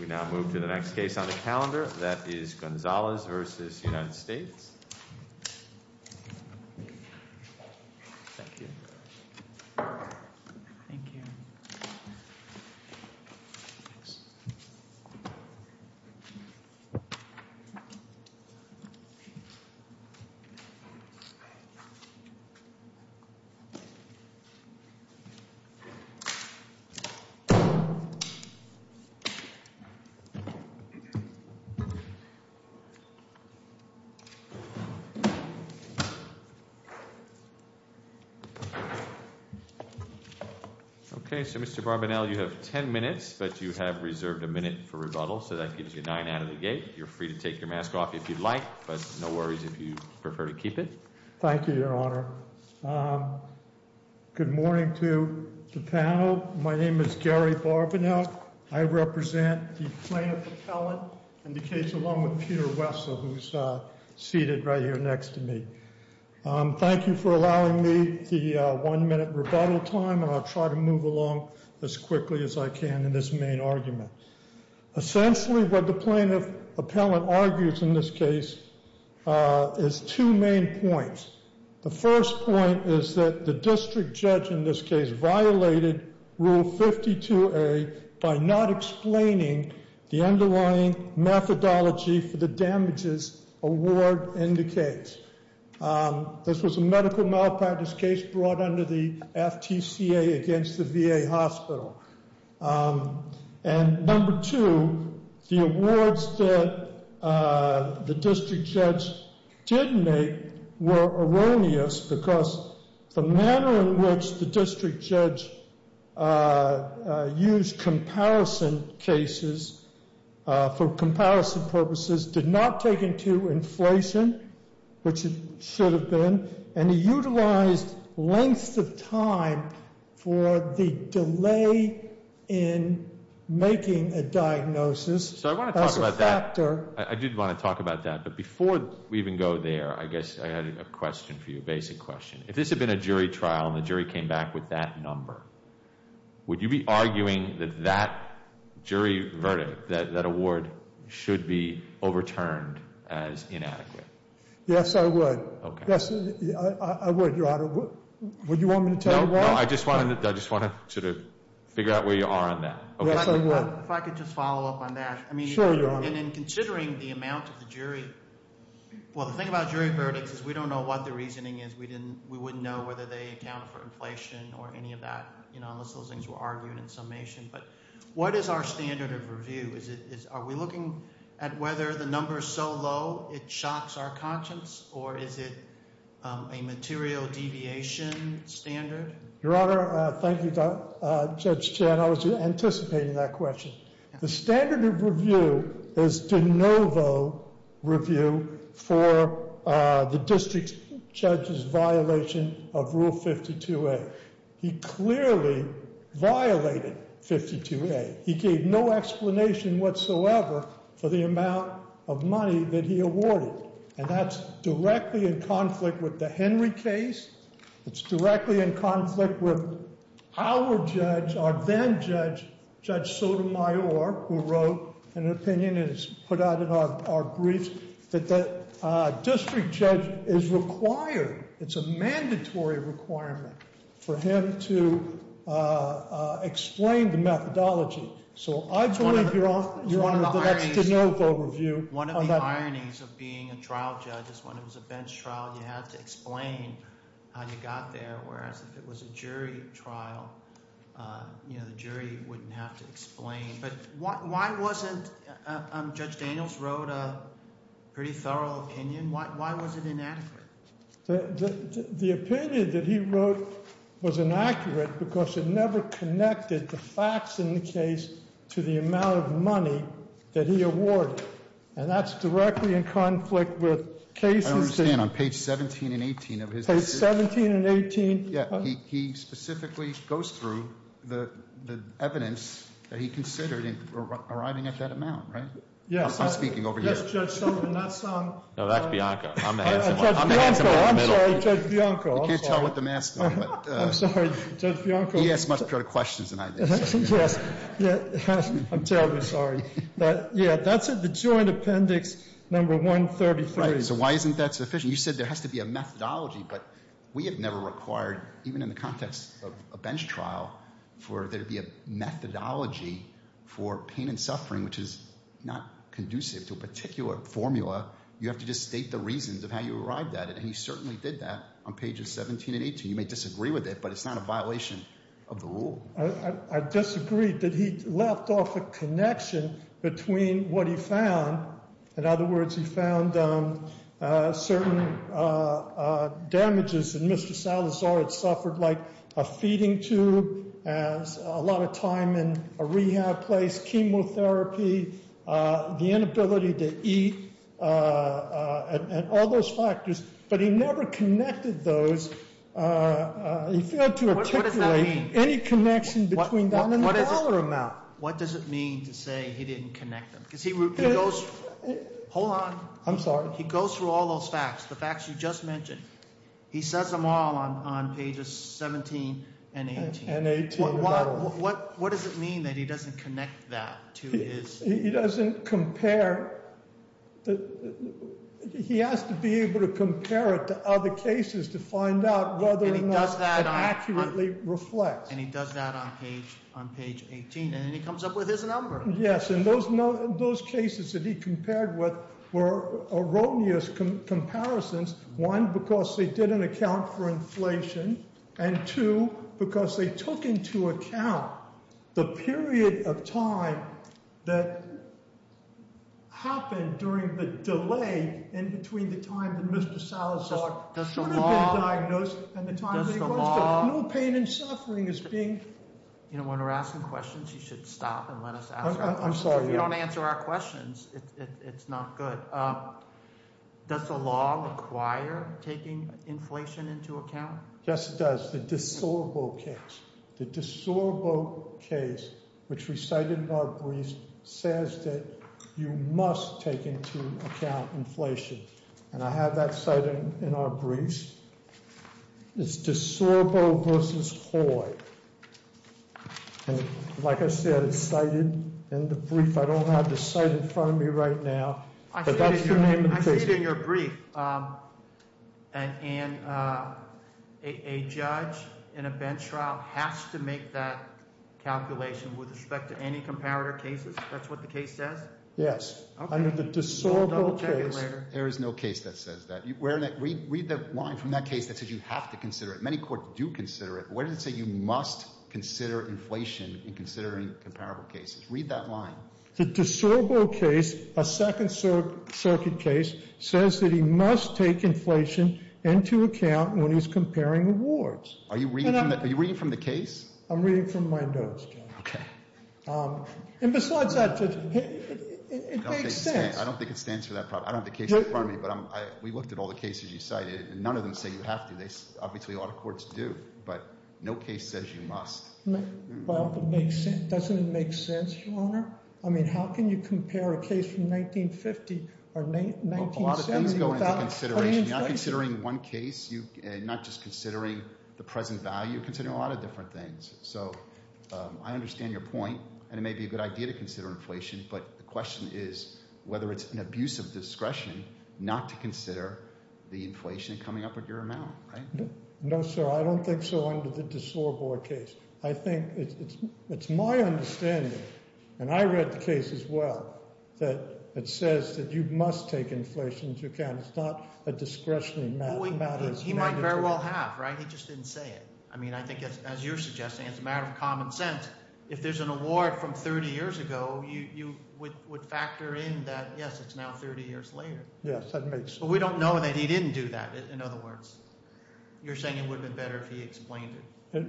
We now move to the next case on the calendar. That is Gonzalez v. United States. Okay, so Mr. Barbanel, you have ten minutes, but you have reserved a minute for rebuttal, so that gives you nine out of the gate. You're free to take your mask off if you'd like, but no worries if you prefer to keep it. Thank you, Your Honor. Good morning to the panel. My name is Gary Barbanel. I represent the plaintiff appellate in the case along with Peter Wessel, who's seated right here next to me. Thank you for allowing me the one-minute rebuttal time, and I'll try to move along as quickly as I can in this main argument. Essentially, what the plaintiff appellate argues in this case is two main points. The first point is that the district judge in this case violated Rule 52A by not explaining the underlying methodology for the damages award indicates. This was a medical malpractice case brought under the FTCA against the VA hospital, and number two, the awards that the district judge did make were erroneous because the manner in which the district judge used comparison cases for comparison purposes did not take into inflation, which it should have been, and he utilized lengths of time for the delay in making a diagnosis as a factor. I did want to talk about that, but before we even go there, I guess I had a question for you, a basic question. If this had been a jury trial and the jury came back with that number, would you be arguing that that jury verdict, that award, should be overturned as inadequate? Yes, I would. Yes, I would, Your Honor. Would you want me to tell you why? No, I just want to sort of figure out where you are on that. Yes, I would. If I could just follow up on that. Sure, Your Honor. In considering the amount of the jury, well, the thing about jury verdicts is we don't know what the reasoning is. We wouldn't know whether they accounted for inflation or any of that, you know, unless those things were argued in summation. But what is our standard of review? Are we looking at whether the number is so low it shocks our conscience, or is it a material deviation standard? Your Honor, thank you, Judge Chan. I was anticipating that question. The standard of review is de novo review for the district judge's violation of Rule 52A. He clearly violated 52A. He gave no explanation whatsoever for the amount of money that he awarded. And that's directly in conflict with the Henry case. It's directly in conflict with our judge, our then judge, Judge Sotomayor, who wrote an opinion and has put out in our briefs that the district judge is required, it's a mandatory requirement for him to explain the methodology. So I believe, Your Honor, that's de novo review. One of the ironies of being a trial judge is when it was a bench trial, you had to explain how you got there. Whereas if it was a jury trial, the jury wouldn't have to explain. But why wasn't, Judge Daniels wrote a pretty thorough opinion, why was it inadequate? The opinion that he wrote was inaccurate because it never connected the facts in the case to the amount of money that he awarded. And that's directly in conflict with cases that- I understand on page 17 and 18 of his- Page 17 and 18- Yeah, he specifically goes through the evidence that he considered arriving at that amount, right? Yes. I'm speaking over here. Yes, Judge Sullivan, that's on- No, that's Bianca. I'm the handsome one. I'm the handsome one in the middle. I'm sorry, Judge Bianco. You can't tell with the mask on, but- I'm sorry, Judge Bianco. He asks much better questions than I do. Yes, I'm terribly sorry. But yeah, that's in the joint appendix number 133. Right, so why isn't that sufficient? You said there has to be a methodology, but we have never required, even in the context of a bench trial, for there to be a methodology for pain and suffering, which is not conducive to a particular formula. You have to just state the reasons of how you arrived at it, and he certainly did that on pages 17 and 18. You may disagree with it, but it's not a violation of the rule. I disagree that he left off a connection between what he found. In other words, he found certain damages in Mr. Salazar had suffered, like a feeding tube, a lot of time in a rehab place, chemotherapy, the inability to eat, and all those factors. But he never connected those, he failed to articulate any connection between that and the dollar amount. What does it mean to say he didn't connect them? because he goes- Hold on. I'm sorry. He goes through all those facts, the facts you just mentioned. And 18 in that one. What does it mean that he doesn't connect that to his- He doesn't compare, he has to be able to compare it to other cases to find out whether or not it accurately reflects. And he does that on page 18, and then he comes up with his number. Yes, and those cases that he compared with were erroneous comparisons. And two, because they took into account the period of time that happened during the delay in between the time that Mr. Salazar should have been diagnosed and the time that he was, no pain and suffering is being- You know, when we're asking questions, you should stop and let us answer. I'm sorry, yeah. If you don't answer our questions, it's not good. Does the law require taking inflation into account? Yes, it does. The DeSorbo case. The DeSorbo case, which we cited in our brief, says that you must take into account inflation. And I have that cited in our briefs. It's DeSorbo versus Hoy. And like I said, it's cited in the brief. I don't have the site in front of me right now. But that's the name of the case. It's cited in your brief. And a judge in a bench trial has to make that calculation with respect to any comparator cases. That's what the case says? Yes. Under the DeSorbo case- There is no case that says that. Read the line from that case that says you have to consider it. Many courts do consider it. Where does it say you must consider inflation in considering comparable cases? Read that line. The DeSorbo case, a Second Circuit case, says that he must take inflation into account when he's comparing awards. Are you reading from the case? I'm reading from my notes, John. Okay. And besides that, it makes sense. I don't think it stands for that problem. I don't have the case in front of me. But we looked at all the cases you cited, and none of them say you have to. Obviously, a lot of courts do. But no case says you must. But doesn't it make sense, Your Honor? I mean, how can you compare a case from 1950 or 1970 without- A lot of things go into consideration. You're not considering one case. You're not just considering the present value. You're considering a lot of different things. So I understand your point, and it may be a good idea to consider inflation. But the question is whether it's an abuse of discretion not to consider the inflation coming up with your amount, right? No, sir. I don't think so under the DeSorbo case. I think it's my understanding, and I read the case as well, that it says that you must take inflation if you can. It's not a discretionary matter. He might very well have, right? He just didn't say it. I mean, I think as you're suggesting, it's a matter of common sense. If there's an award from 30 years ago, you would factor in that, yes, it's now 30 years later. Yes, that makes sense. But we don't know that he didn't do that, in other words. You're saying it would have been better if he explained it.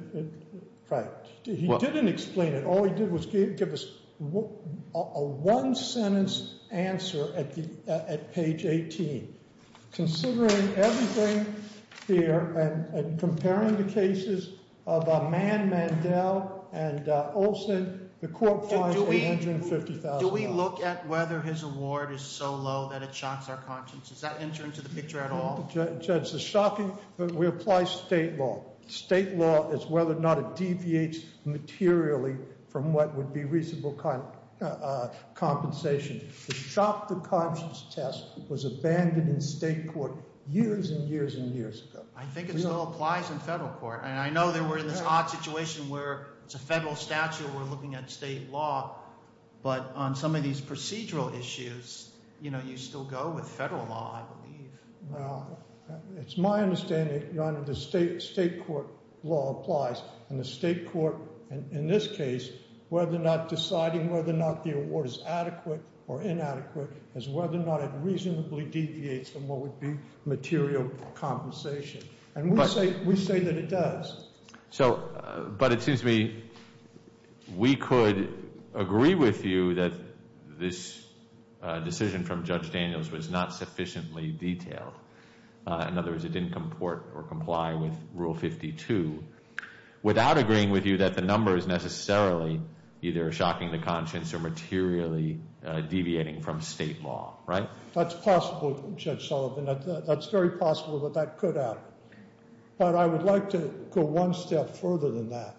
Right, he didn't explain it. All he did was give us a one sentence answer at page 18. Considering everything here, and comparing the cases of Man Mandel and Olson, the court finds $850,000. Do we look at whether his award is so low that it shocks our conscience? Does that enter into the picture at all? Judge, the shocking, we apply state law. State law is whether or not it deviates materially from what would be reasonable compensation. The shock to conscience test was abandoned in state court years and years and years ago. I think it still applies in federal court. And I know that we're in this odd situation where it's a federal statute, we're looking at state law. But on some of these procedural issues, you still go with federal law, I believe. Now, it's my understanding, Your Honor, the state court law applies. And the state court, in this case, whether or not deciding whether or not the award is adequate or inadequate, is whether or not it reasonably deviates from what would be material compensation. And we say that it does. So, but it seems to me we could agree with you that this decision from Judge Daniels was not sufficiently detailed. In other words, it didn't comport or comply with Rule 52 without agreeing with you that the number is necessarily either shocking the conscience or materially deviating from state law, right? That's possible, Judge Sullivan. That's very possible that that could happen. But I would like to go one step further than that.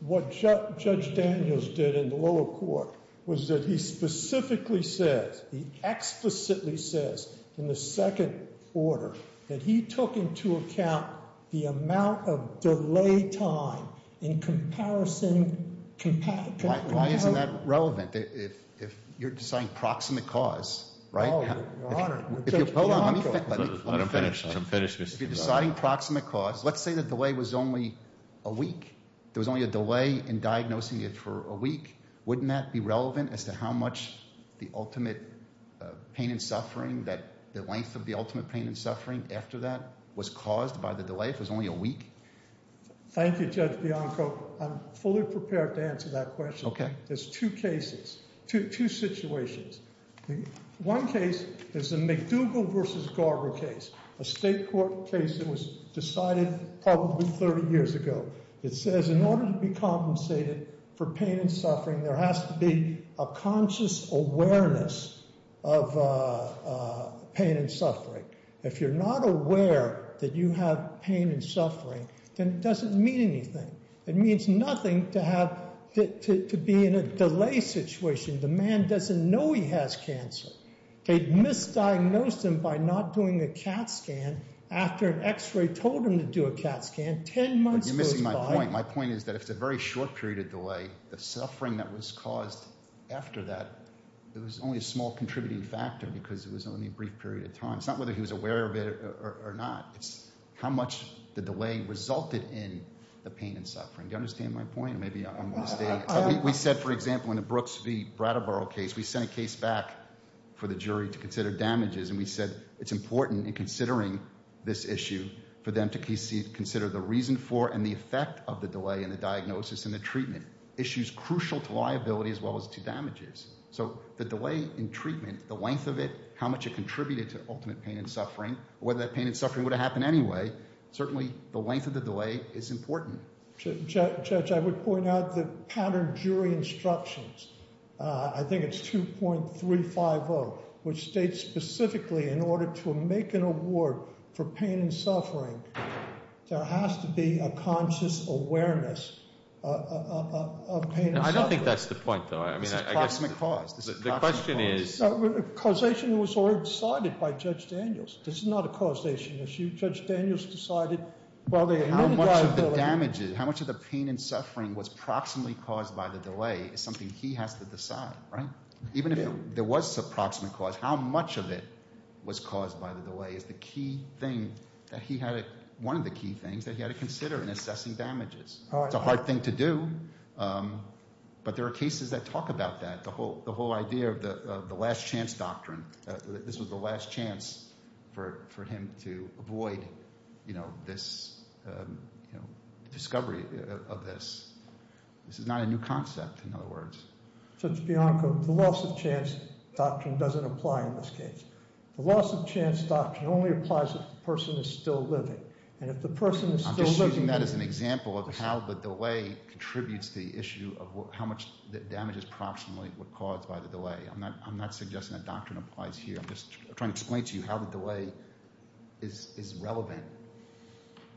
What Judge Daniels did in the lower court was that he specifically says, he explicitly says in the second order that he took into account the amount of delay time in comparison. Why isn't that relevant if you're deciding proximate cause, right? Hold on, let him finish, let him finish, Mr. If you're deciding proximate cause, let's say the delay was only a week. There was only a delay in diagnosing it for a week. Wouldn't that be relevant as to how much the ultimate pain and suffering, the length of the ultimate pain and suffering after that was caused by the delay if it was only a week? Thank you, Judge Bianco. I'm fully prepared to answer that question. Okay. There's two cases, two situations. One case is the McDougall versus Garber case, a state court case that was decided probably 30 years ago. It says in order to be compensated for pain and suffering, there has to be a conscious awareness of pain and suffering. If you're not aware that you have pain and suffering, then it doesn't mean anything. It means nothing to be in a delay situation. The man doesn't know he has cancer. They misdiagnosed him by not doing a CAT scan after an x-ray told him to do a CAT scan. Ten months goes by- You're missing my point. My point is that if it's a very short period of delay, the suffering that was caused after that, it was only a small contributing factor because it was only a brief period of time. It's not whether he was aware of it or not. It's how much the delay resulted in the pain and suffering. Do you understand my point? Maybe I'm mistaken. We said, for example, in the Brooks v. Brattleboro case, we sent a case back for the jury to consider damages. And we said it's important in considering this issue for them to consider the reason for and the effect of the delay in the diagnosis and the treatment, issues crucial to liability as well as to damages. So the delay in treatment, the length of it, how much it contributed to ultimate pain and suffering, whether that pain and suffering would have happened anyway, certainly the length of the delay is important. Judge, I would point out the pattern jury instructions. I think it's 2.350, which states specifically in order to make an award for pain and suffering, there has to be a conscious awareness of pain and suffering. I don't think that's the point, though. I mean, I guess- This is cosmic cause. This is cosmic cause. The question is- Causation was already decided by Judge Daniels. This is not a causation issue. Judge Daniels decided while they admitted liability- How much of the damages, how much of the pain and suffering was proximately caused by the delay is something he has to decide, right? Even if there was a proximate cause, how much of it was caused by the delay is the key thing that he had, one of the key things that he had to consider in assessing damages. It's a hard thing to do, but there are cases that talk about that. The whole idea of the last chance doctrine, this was the last chance for discovery of this, this is not a new concept, in other words. Judge Bianco, the loss of chance doctrine doesn't apply in this case. The loss of chance doctrine only applies if the person is still living. And if the person is still living- I'm just using that as an example of how the delay contributes to the issue of how much damage is proximately caused by the delay. I'm not suggesting that doctrine applies here. I'm just trying to explain to you how the delay is relevant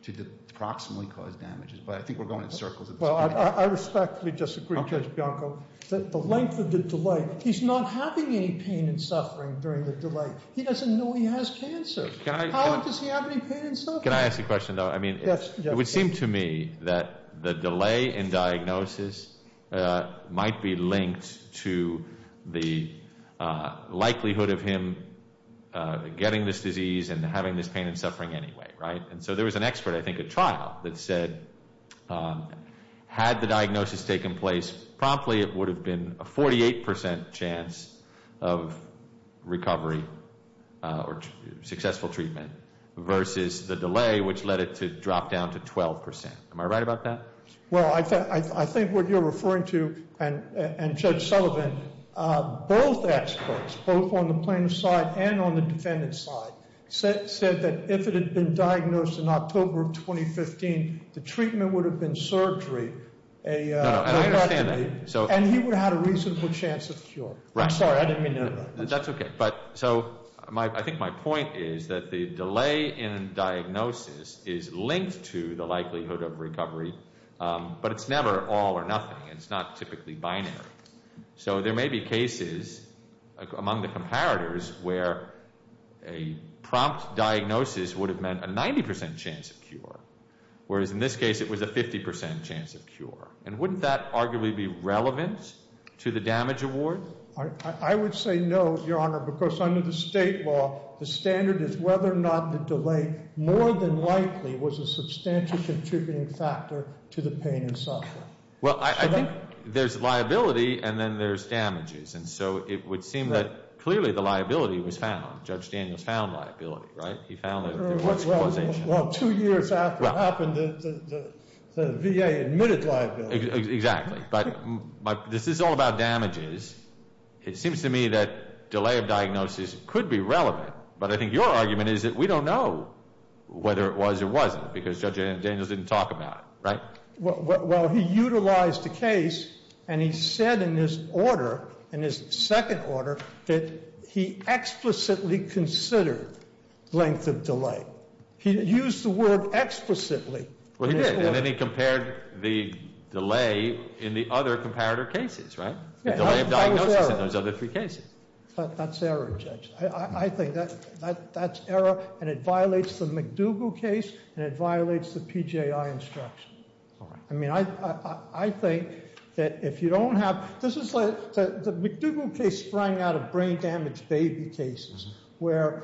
to the proximately caused damages, but I think we're going in circles at this point. Well, I respectfully disagree, Judge Bianco, that the length of the delay, he's not having any pain and suffering during the delay. He doesn't know he has cancer. How does he have any pain and suffering? Can I ask a question, though? I mean, it would seem to me that the delay in diagnosis might be linked to the likelihood of him getting this disease and having this pain and suffering anyway, right? And so there was an expert, I think, at trial that said, had the diagnosis taken place promptly, it would have been a 48% chance of recovery or successful treatment versus the delay, which led it to drop down to 12%. Am I right about that? Well, I think what you're referring to and Judge Sullivan, both experts, both on the plaintiff's side and on the defendant's side, said that if it had been diagnosed in October of 2015, the treatment would have been surgery, and he would have had a reasonable chance of cure. I'm sorry, I didn't mean to interrupt. That's okay. But so I think my point is that the delay in diagnosis is linked to the likelihood of recovery, but it's never all or nothing, and it's not typically binary. So there may be cases among the comparators where a prompt diagnosis would have meant a 90% chance of cure, whereas in this case it was a 50% chance of cure. And wouldn't that arguably be relevant to the damage award? I would say no, Your Honor, because under the state law, the standard is whether or not the delay, more than likely, was a substantial contributing factor to the pain and suffering. Well, I think there's liability and then there's damages. And so it would seem that clearly the liability was found. Judge Daniels found liability, right? He found that it was causation. Well, two years after it happened, the VA admitted liability. Exactly, but this is all about damages. It seems to me that delay of diagnosis could be relevant. But I think your argument is that we don't know whether it was or wasn't, because Judge Daniels didn't talk about it, right? Well, he utilized the case, and he said in his order, in his second order, that he explicitly considered length of delay. He used the word explicitly. Well, he did, and then he compared the delay in the other comparator cases, right? The delay of diagnosis in those other three cases. That's error, Judge. I think that's error, and it violates the McDougall case, and it violates the PGI instruction. I mean, I think that if you don't have, this is like the McDougall case sprang out of brain damage baby cases. Where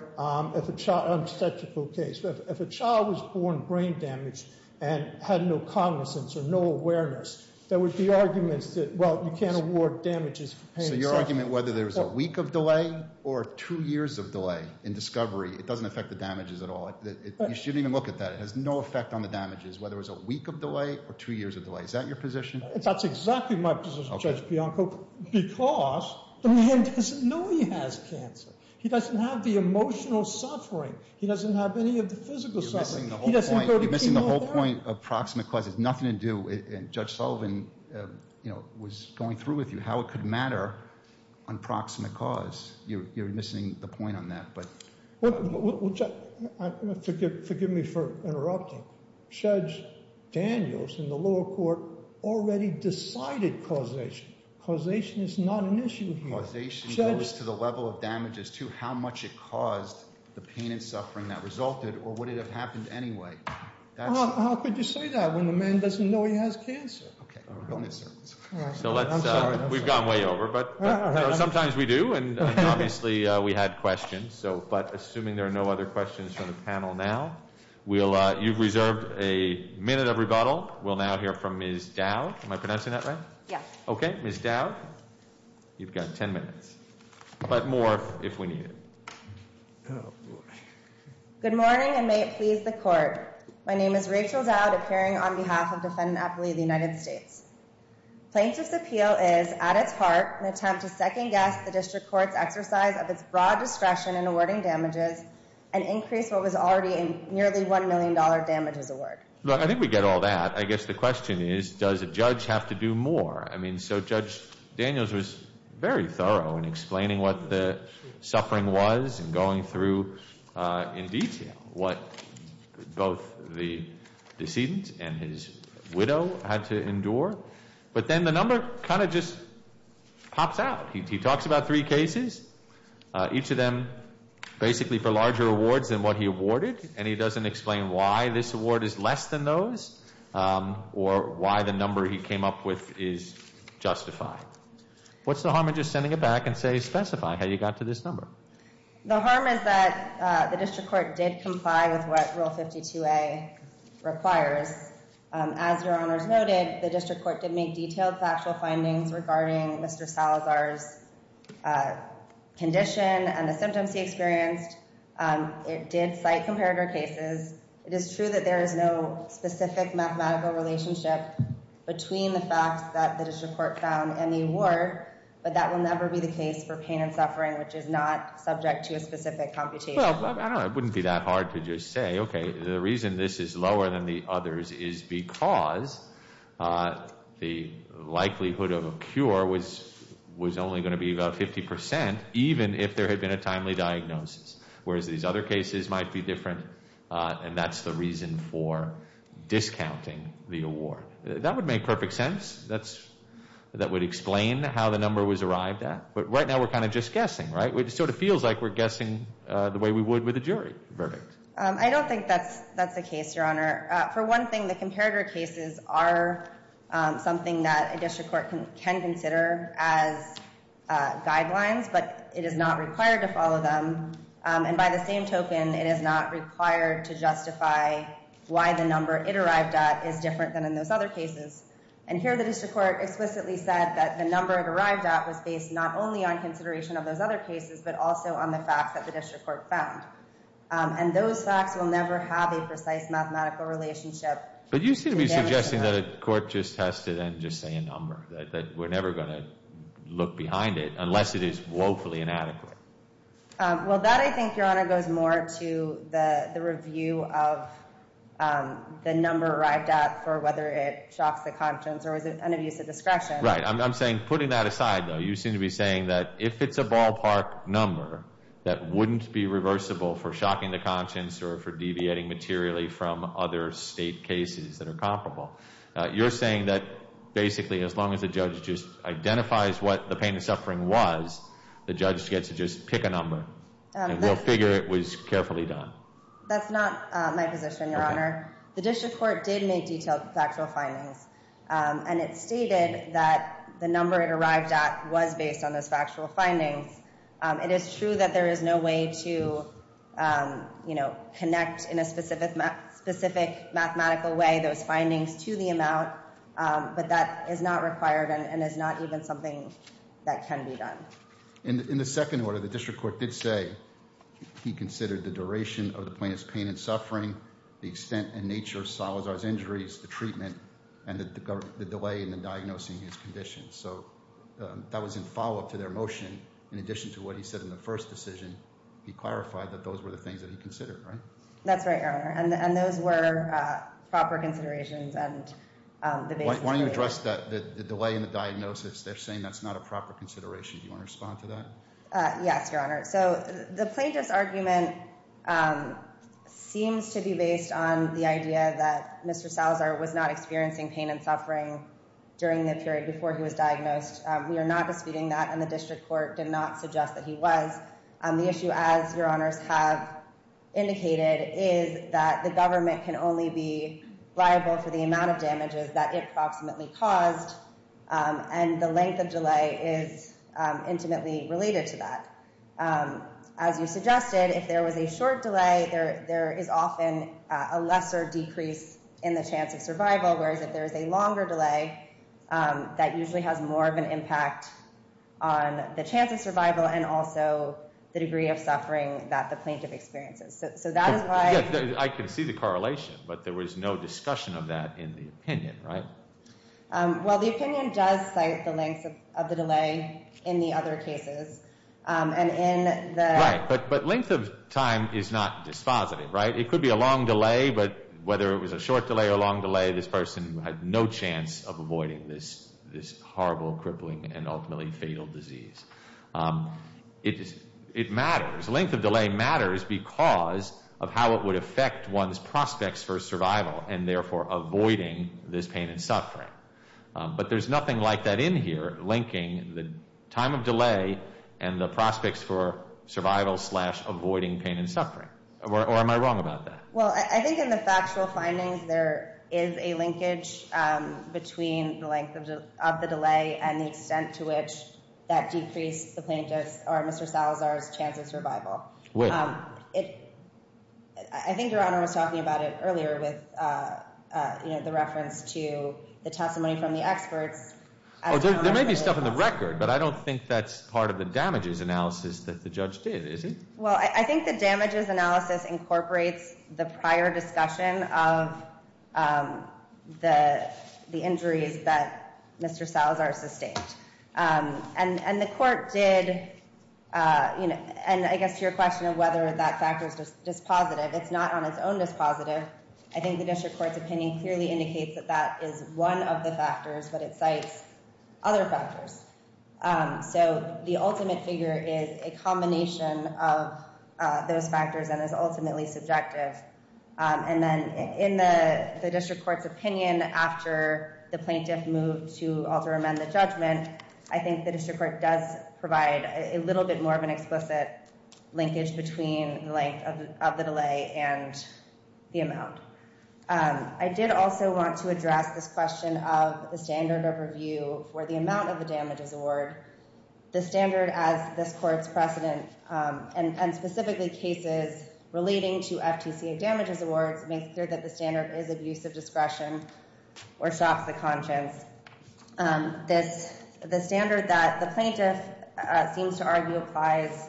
if a child, an obstetrical case, if a child was born brain damaged and had no cognizance or no awareness, there would be arguments that, well, you can't award damages for pain. So your argument, whether there's a week of delay or two years of delay in discovery, it doesn't affect the damages at all. You shouldn't even look at that. It has no effect on the damages, whether it's a week of delay or two years of delay. Is that your position? That's exactly my position, Judge Bianco, because the man doesn't know he has cancer. He doesn't have the emotional suffering. He doesn't have any of the physical suffering. He doesn't go to chemotherapy. You're missing the whole point of proximate cause. It's nothing to do, and Judge Sullivan was going through with you how it could matter on proximate cause. You're missing the point on that, but. Forgive me for interrupting. Judge Daniels in the lower court already decided causation. Causation is not an issue here. Causation goes to the level of damages to how much it caused the pain and suffering that resulted, or would it have happened anyway? How could you say that when the man doesn't know he has cancer? Okay, bonus sentence. So let's, we've gone way over, but sometimes we do, and obviously we had questions. But assuming there are no other questions from the panel now, you've reserved a minute of rebuttal. We'll now hear from Ms. Dow. Am I pronouncing that right? Yes. Okay, Ms. Dow, you've got ten minutes, but more if we need it. Good morning, and may it please the court. My name is Rachel Dowd, appearing on behalf of Defendant Appellee of the United States. Plaintiff's appeal is, at its heart, an attempt to second guess the district court's exercise of its broad discretion in awarding damages. And increase what was already a nearly $1 million damages award. Look, I think we get all that. I guess the question is, does a judge have to do more? I mean, so Judge Daniels was very thorough in explaining what the suffering was and going through in detail what both the decedent and his widow had to endure. But then the number kind of just pops out. He talks about three cases, each of them basically for larger awards than what he awarded. And he doesn't explain why this award is less than those, or why the number he came up with is justified. What's the harm in just sending it back and say, specify how you got to this number? The harm is that the district court did comply with what Rule 52A requires. As your honors noted, the district court did make detailed factual findings regarding Mr. Salazar's condition and the symptoms he experienced. It did cite comparator cases. It is true that there is no specific mathematical relationship between the facts that the district court found and the award. But that will never be the case for pain and suffering, which is not subject to a specific computation. Well, I don't know. It wouldn't be that hard to just say, okay, the reason this is lower than the others is because the likelihood of a cure was only going to be about 50%, even if there had been a timely diagnosis. Whereas these other cases might be different, and that's the reason for discounting the award. That would make perfect sense. That would explain how the number was arrived at. But right now, we're kind of just guessing, right? It sort of feels like we're guessing the way we would with a jury verdict. I don't think that's the case, your honor. For one thing, the comparator cases are something that a district court can consider as guidelines, but it is not required to follow them. And by the same token, it is not required to justify why the number it arrived at is different than in those other cases. And here, the district court explicitly said that the number it arrived at was based not only on consideration of those other cases, but also on the facts that the district court found. And those facts will never have a precise mathematical relationship. But you seem to be suggesting that a court just has to then just say a number, that we're never going to look behind it unless it is woefully inadequate. Well, that, I think, your honor, goes more to the review of the number arrived at for whether it shocks the conscience or is it an abuse of discretion. Right. I'm saying, putting that aside, though, you seem to be saying that if it's a ballpark number that wouldn't be reversible for shocking the conscience or for deviating materially from other state cases that are comparable, you're saying that basically as long as the judge just identifies what the pain and suffering was, the judge gets to just pick a number. And we'll figure it was carefully done. That's not my position, your honor. The district court did make detailed factual findings. And it stated that the number it arrived at was based on those factual findings. It is true that there is no way to connect in a specific mathematical way those findings to the amount. But that is not required and is not even something that can be done. In the second order, the district court did say he considered the duration of the plaintiff's pain and suffering, the extent and nature of Salazar's injuries, the treatment, and the delay in diagnosing his condition. So that was in follow-up to their motion. In addition to what he said in the first decision, he clarified that those were the things that he considered, right? That's right, your honor. And those were proper considerations and the basis. Why don't you address the delay in the diagnosis? They're saying that's not a proper consideration. Do you want to respond to that? Yes, your honor. So the plaintiff's argument seems to be based on the idea that Mr. Salazar was not experiencing pain and suffering during the period before he was diagnosed. We are not disputing that and the district court did not suggest that he was. The issue, as your honors have indicated, is that the government can only be liable for the amount of damages that it approximately caused. And the length of delay is intimately related to that. As you suggested, if there was a short delay, there is often a lesser decrease in the chance of survival. Whereas if there is a longer delay, that usually has more of an impact on the chance of survival and also the degree of suffering that the plaintiff experiences. So that is why... Yes, I can see the correlation, but there was no discussion of that in the opinion, right? Well, the opinion does cite the length of the delay in the other cases. And in the... Right, but length of time is not dispositive, right? It could be a long delay, but whether it was a short delay or long delay, this person had no chance of avoiding this horrible, crippling, and ultimately fatal disease. It matters. Length of delay matters because of how it would affect one's prospects for survival and therefore avoiding this pain and suffering. But there's nothing like that in here, linking the time of delay and the prospects for survival slash avoiding pain and suffering. Or am I wrong about that? Well, I think in the factual findings, there is a linkage between the length of the delay and the extent to which that decreased the plaintiff's or Mr. Salazar's chance of survival. Which? I think Your Honor was talking about it earlier with the reference to the testimony from the experts. There may be stuff in the record, but I don't think that's part of the damages analysis that the judge did, is it? Well, I think the damages analysis incorporates the prior discussion of the injuries that Mr. Salazar sustained. And the court did, and I guess to your question of whether that factor is dispositive, it's not on its own dispositive. I think the district court's opinion clearly indicates that that is one of the factors, but it cites other factors. So the ultimate figure is a combination of those factors and is ultimately subjective. And then in the district court's opinion after the plaintiff moved to alter amend the judgment, I think the district court does provide a little bit more of an explicit linkage between the length of the delay and the amount. I did also want to address this question of the standard of review for the amount of the damages award. The standard as this court's precedent, and specifically cases relating to FGCA damages awards, makes clear that the standard is abuse of discretion or shocks the conscience. The standard that the plaintiff seems to argue applies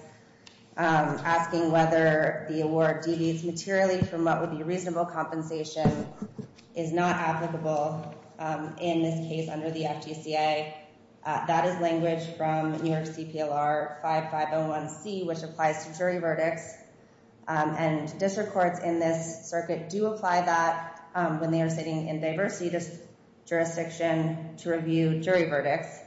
asking whether the award deviates materially from what would be reasonable compensation is not applicable in this case under the FGCA. That is language from New York CPLR 5501C, which applies to jury verdicts. And district courts in this circuit do apply that when they are sitting in diversity jurisdiction to review jury verdicts.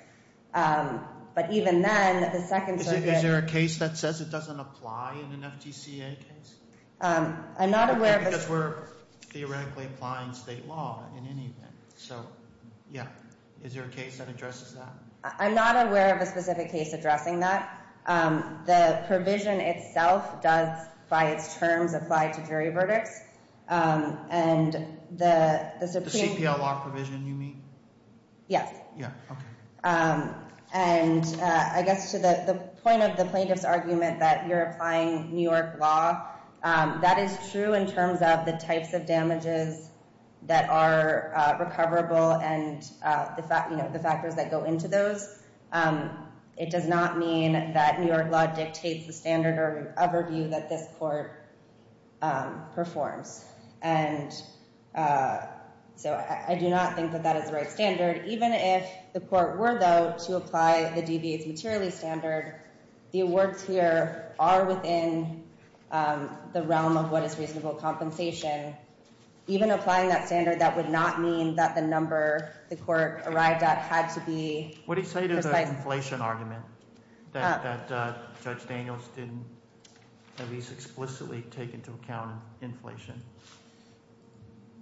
But even then, the second circuit- Is there a case that says it doesn't apply in an FGCA case? I'm not aware of- Because we're theoretically applying state law in any event. So, yeah. Is there a case that addresses that? I'm not aware of a specific case addressing that. The provision itself does, by its terms, apply to jury verdicts. And the supreme- The CPLR provision you mean? Yes. Yeah, okay. And I guess to the point of the plaintiff's argument that you're applying New York law, that is true in terms of the types of damages that are recoverable and the factors that go into those. It does not mean that New York law dictates the standard of review that this court performs. And so, I do not think that that is the right standard. Even if the court were, to apply the DBA's materially standard, the awards here are within the realm of what is reasonable compensation. Even applying that standard, that would not mean that the number the court arrived at had to be- What do you say to the inflation argument that Judge Daniels didn't at least explicitly take into account inflation?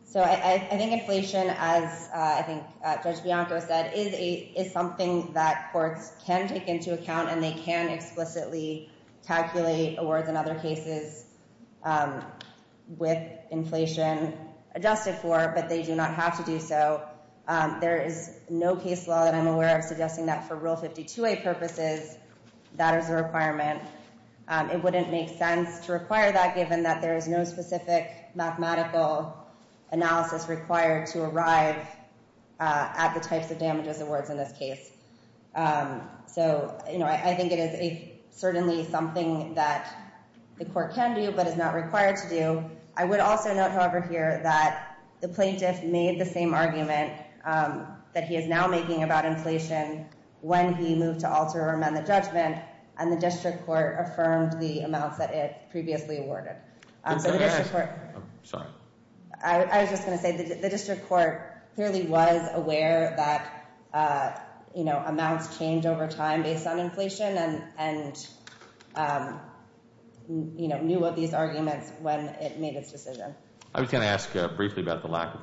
So, I think inflation, as I think Judge Bianco said, is something that courts can take into account and they can explicitly calculate awards in other cases with inflation adjusted for, but they do not have to do so. There is no case law that I'm aware of suggesting that for Rule 52a purposes, that is a requirement. It wouldn't make sense to require that, given that there is no specific mathematical analysis required to arrive at the types of damages awards in this case. So, I think it is certainly something that the court can do, but is not required to do. I would also note, however, here that the plaintiff made the same argument that he is now making about inflation when he moved to alter or amend the judgment, and the district court affirmed the amounts that it previously awarded. I was just going to say, the district court clearly was aware that amounts change over time based on inflation and knew of these arguments when it made its decision. I was going to ask briefly about the loss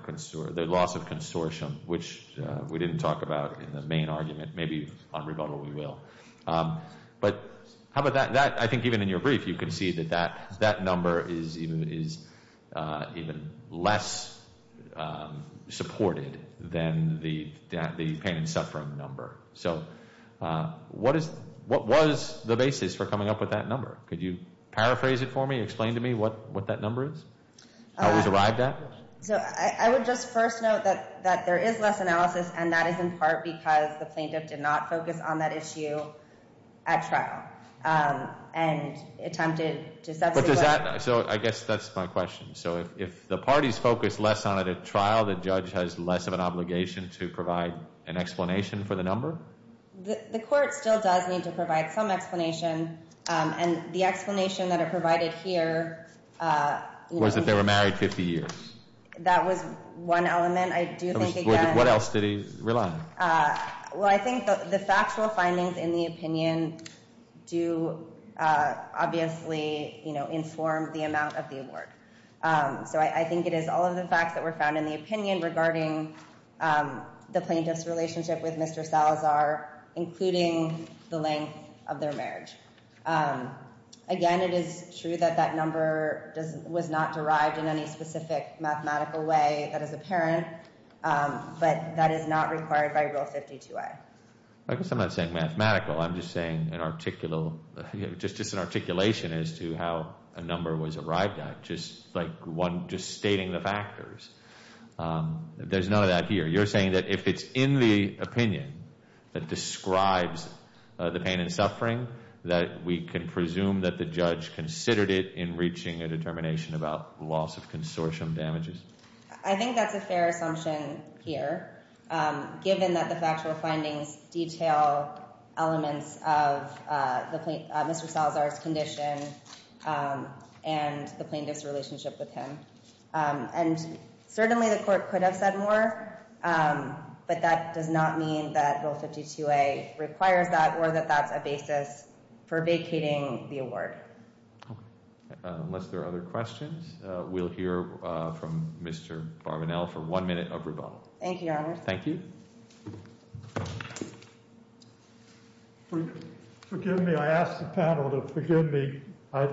of consortium, which we didn't talk about in the argument. Maybe on rebuttal we will. But, how about that? I think even in your brief, you can see that that number is even less supported than the pain and suffering number. So, what was the basis for coming up with that number? Could you paraphrase it for me? Explain to me what that number is? How it was arrived at? So, I would just first note that there is less analysis, and that is in part because the plaintiff did not focus on that issue at trial and attempted to substitute. So, I guess that's my question. So, if the parties focus less on it at trial, the judge has less of an obligation to provide an explanation for the number? The court still does need to provide some explanation, and the explanation that it provided here... Was that they were married 50 years? That was one element. I do think... What else did he rely on? Well, I think the factual findings in the opinion do obviously inform the amount of the award. So, I think it is all of the facts that were found in the opinion regarding the plaintiff's relationship with Mr. Salazar, including the length of their marriage. Again, it is true that that number was not derived in any specific mathematical way that is apparent, but that is not required by Rule 52A. I guess I'm not saying mathematical. I'm just saying an articulation as to how a number was arrived at, just stating the factors. There's none of that here. You're saying that if it's in the opinion that describes the pain and suffering, that we can presume that the judge considered it in reaching a determination about loss of consortium damages? I think that's a fair assumption here, given that the factual findings detail elements of Mr. Salazar's condition and the plaintiff's relationship with him. And certainly, the court could have said more, but that does not mean that Rule 52A requires that or that that's a basis for vacating the award. Okay. Unless there are other questions, we'll hear from Mr. Barbanel for one minute of rebuttal. Thank you, Your Honor. Thank you. Forgive me. I asked the panel to forgive me. I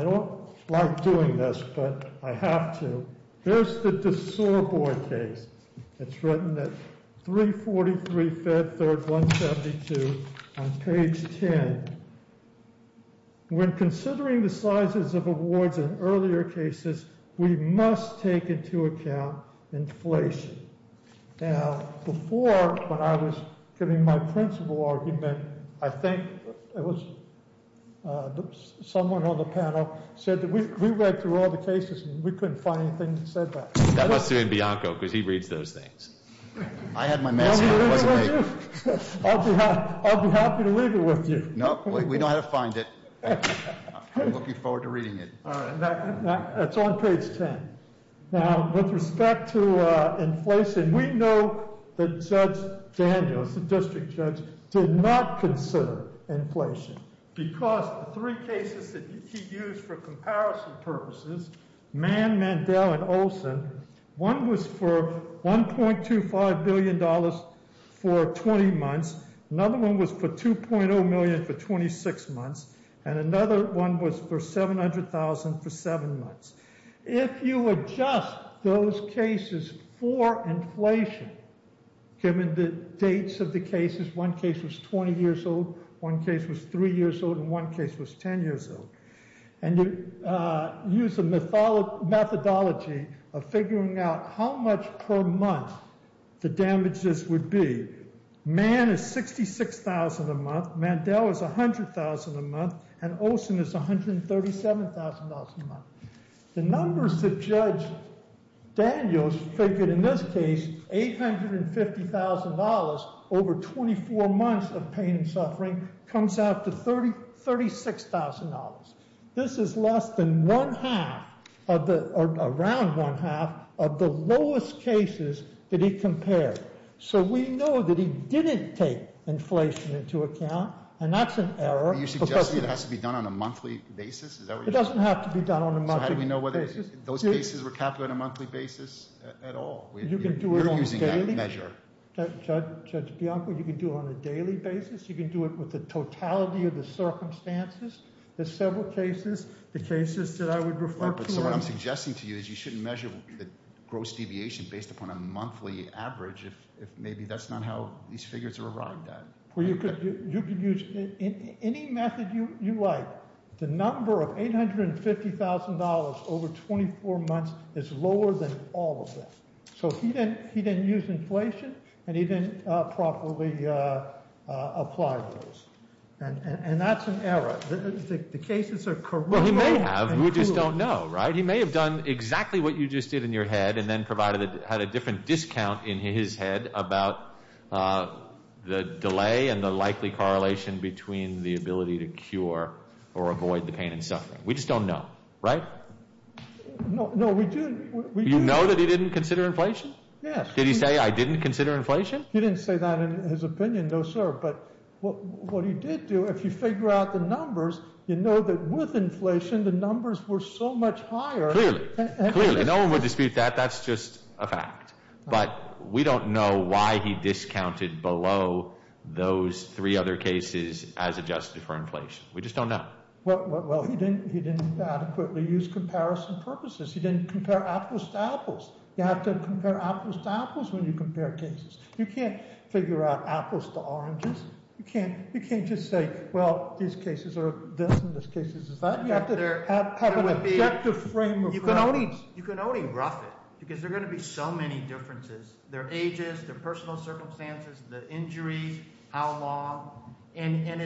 don't like doing this, but I have to. Here's the DeSorboy case. It's written at 343 Fed Third 172 on page 10. When considering the sizes of awards in earlier cases, we must take into account inflation. Now, before, when I was giving my principal argument, I think it was someone on the panel said that we read through all the cases and we couldn't find anything that said that. That must have been Bianco, because he reads those things. I had my mask on. I'll be happy to leave it with you. No, we know how to find it. I'm looking forward to reading it. All right. That's on page 10. Now, with respect to inflation, we know that Judge Daniels, the district judge, did not consider inflation because the three cases that he used for comparison purposes, Mann, Mandel, and Olson, one was for $1.25 billion for 20 months. Another one was for $2.0 million for 26 months, and another one was for $700,000 for seven months. If you adjust those cases for inflation, given the dates of the cases, one case was 20 years old, one case was three years old, and one case was 10 years old, and you use a methodology of figuring out how much per month the damages would be, Mann is $66,000 a month, Mandel is $100,000 a month, and Olson is $137,000 a month. The numbers that Judge Daniels figured in this case, $850,000 over 24 months of pain and suffering, comes out to $36,000. This is less than one half, or around one half, of the lowest cases that he compared. So we know that he didn't take inflation into account, and that's an error. You're suggesting it has to be done on a monthly basis? Is that what you're saying? It doesn't have to be done on a monthly basis. Those cases were calculated on a monthly basis at all. You're using that measure. Judge Bianco, you can do it on a daily basis, you can do it with the totality of the circumstances, the several cases, the cases that I would refer to. So what I'm suggesting to you is you shouldn't measure the gross deviation based upon a monthly average, if maybe that's not how these figures are arrived at. You could use any method you like. The number of $850,000 over 24 months is lower than all of them. So he didn't use inflation, and he didn't properly apply those, and that's an error. The cases are correct. Well, he may have, we just don't know, right? He may have done exactly what you just did in the delay and the likely correlation between the ability to cure or avoid the pain and suffering. We just don't know, right? No, we do. You know that he didn't consider inflation? Yes. Did he say, I didn't consider inflation? He didn't say that in his opinion, no, sir. But what he did do, if you figure out the numbers, you know that with inflation, the numbers were so much higher. Clearly, clearly, no one would dispute that. That's just a fact. But we don't know why he discounted below those three other cases as adjusted for inflation. We just don't know. Well, he didn't adequately use comparison purposes. He didn't compare apples to apples. You have to compare apples to apples when you compare cases. You can't figure out apples to oranges. You can't just say, well, these cases are this, and this case is that. You have to have an objective frame of reference. You can only rough it, because there are going to be so many differences. Their ages, their personal circumstances, the injuries, how long. And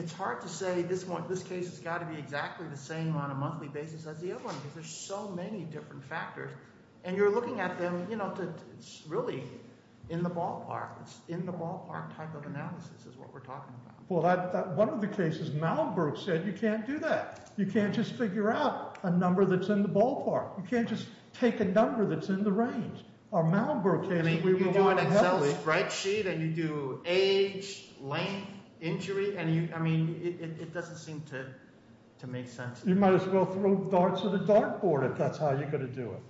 it's hard to say, this case has got to be exactly the same on a monthly basis as the other one, because there's so many different factors. And you're looking at them, you know, it's really in the ballpark. It's in the ballpark type of analysis is what we're talking about. Well, one of the cases Malibu said, you can't do that. You can't just figure out a number that's in the ballpark. You can't just take a number that's in the range. Or Malibu can. I mean, you do an Excel spreadsheet, and you do age, length, injury. And you, I mean, it doesn't seem to make sense. You might as well throw darts at a dartboard if that's how you're going to do it.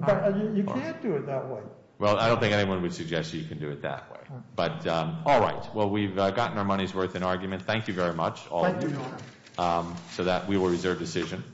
But you can't do it that way. Well, I don't think anyone would suggest you can do it that way. But all right. Well, we've gotten our money's worth in argument. Thank you very much. Thank you. So that we will reserve decision.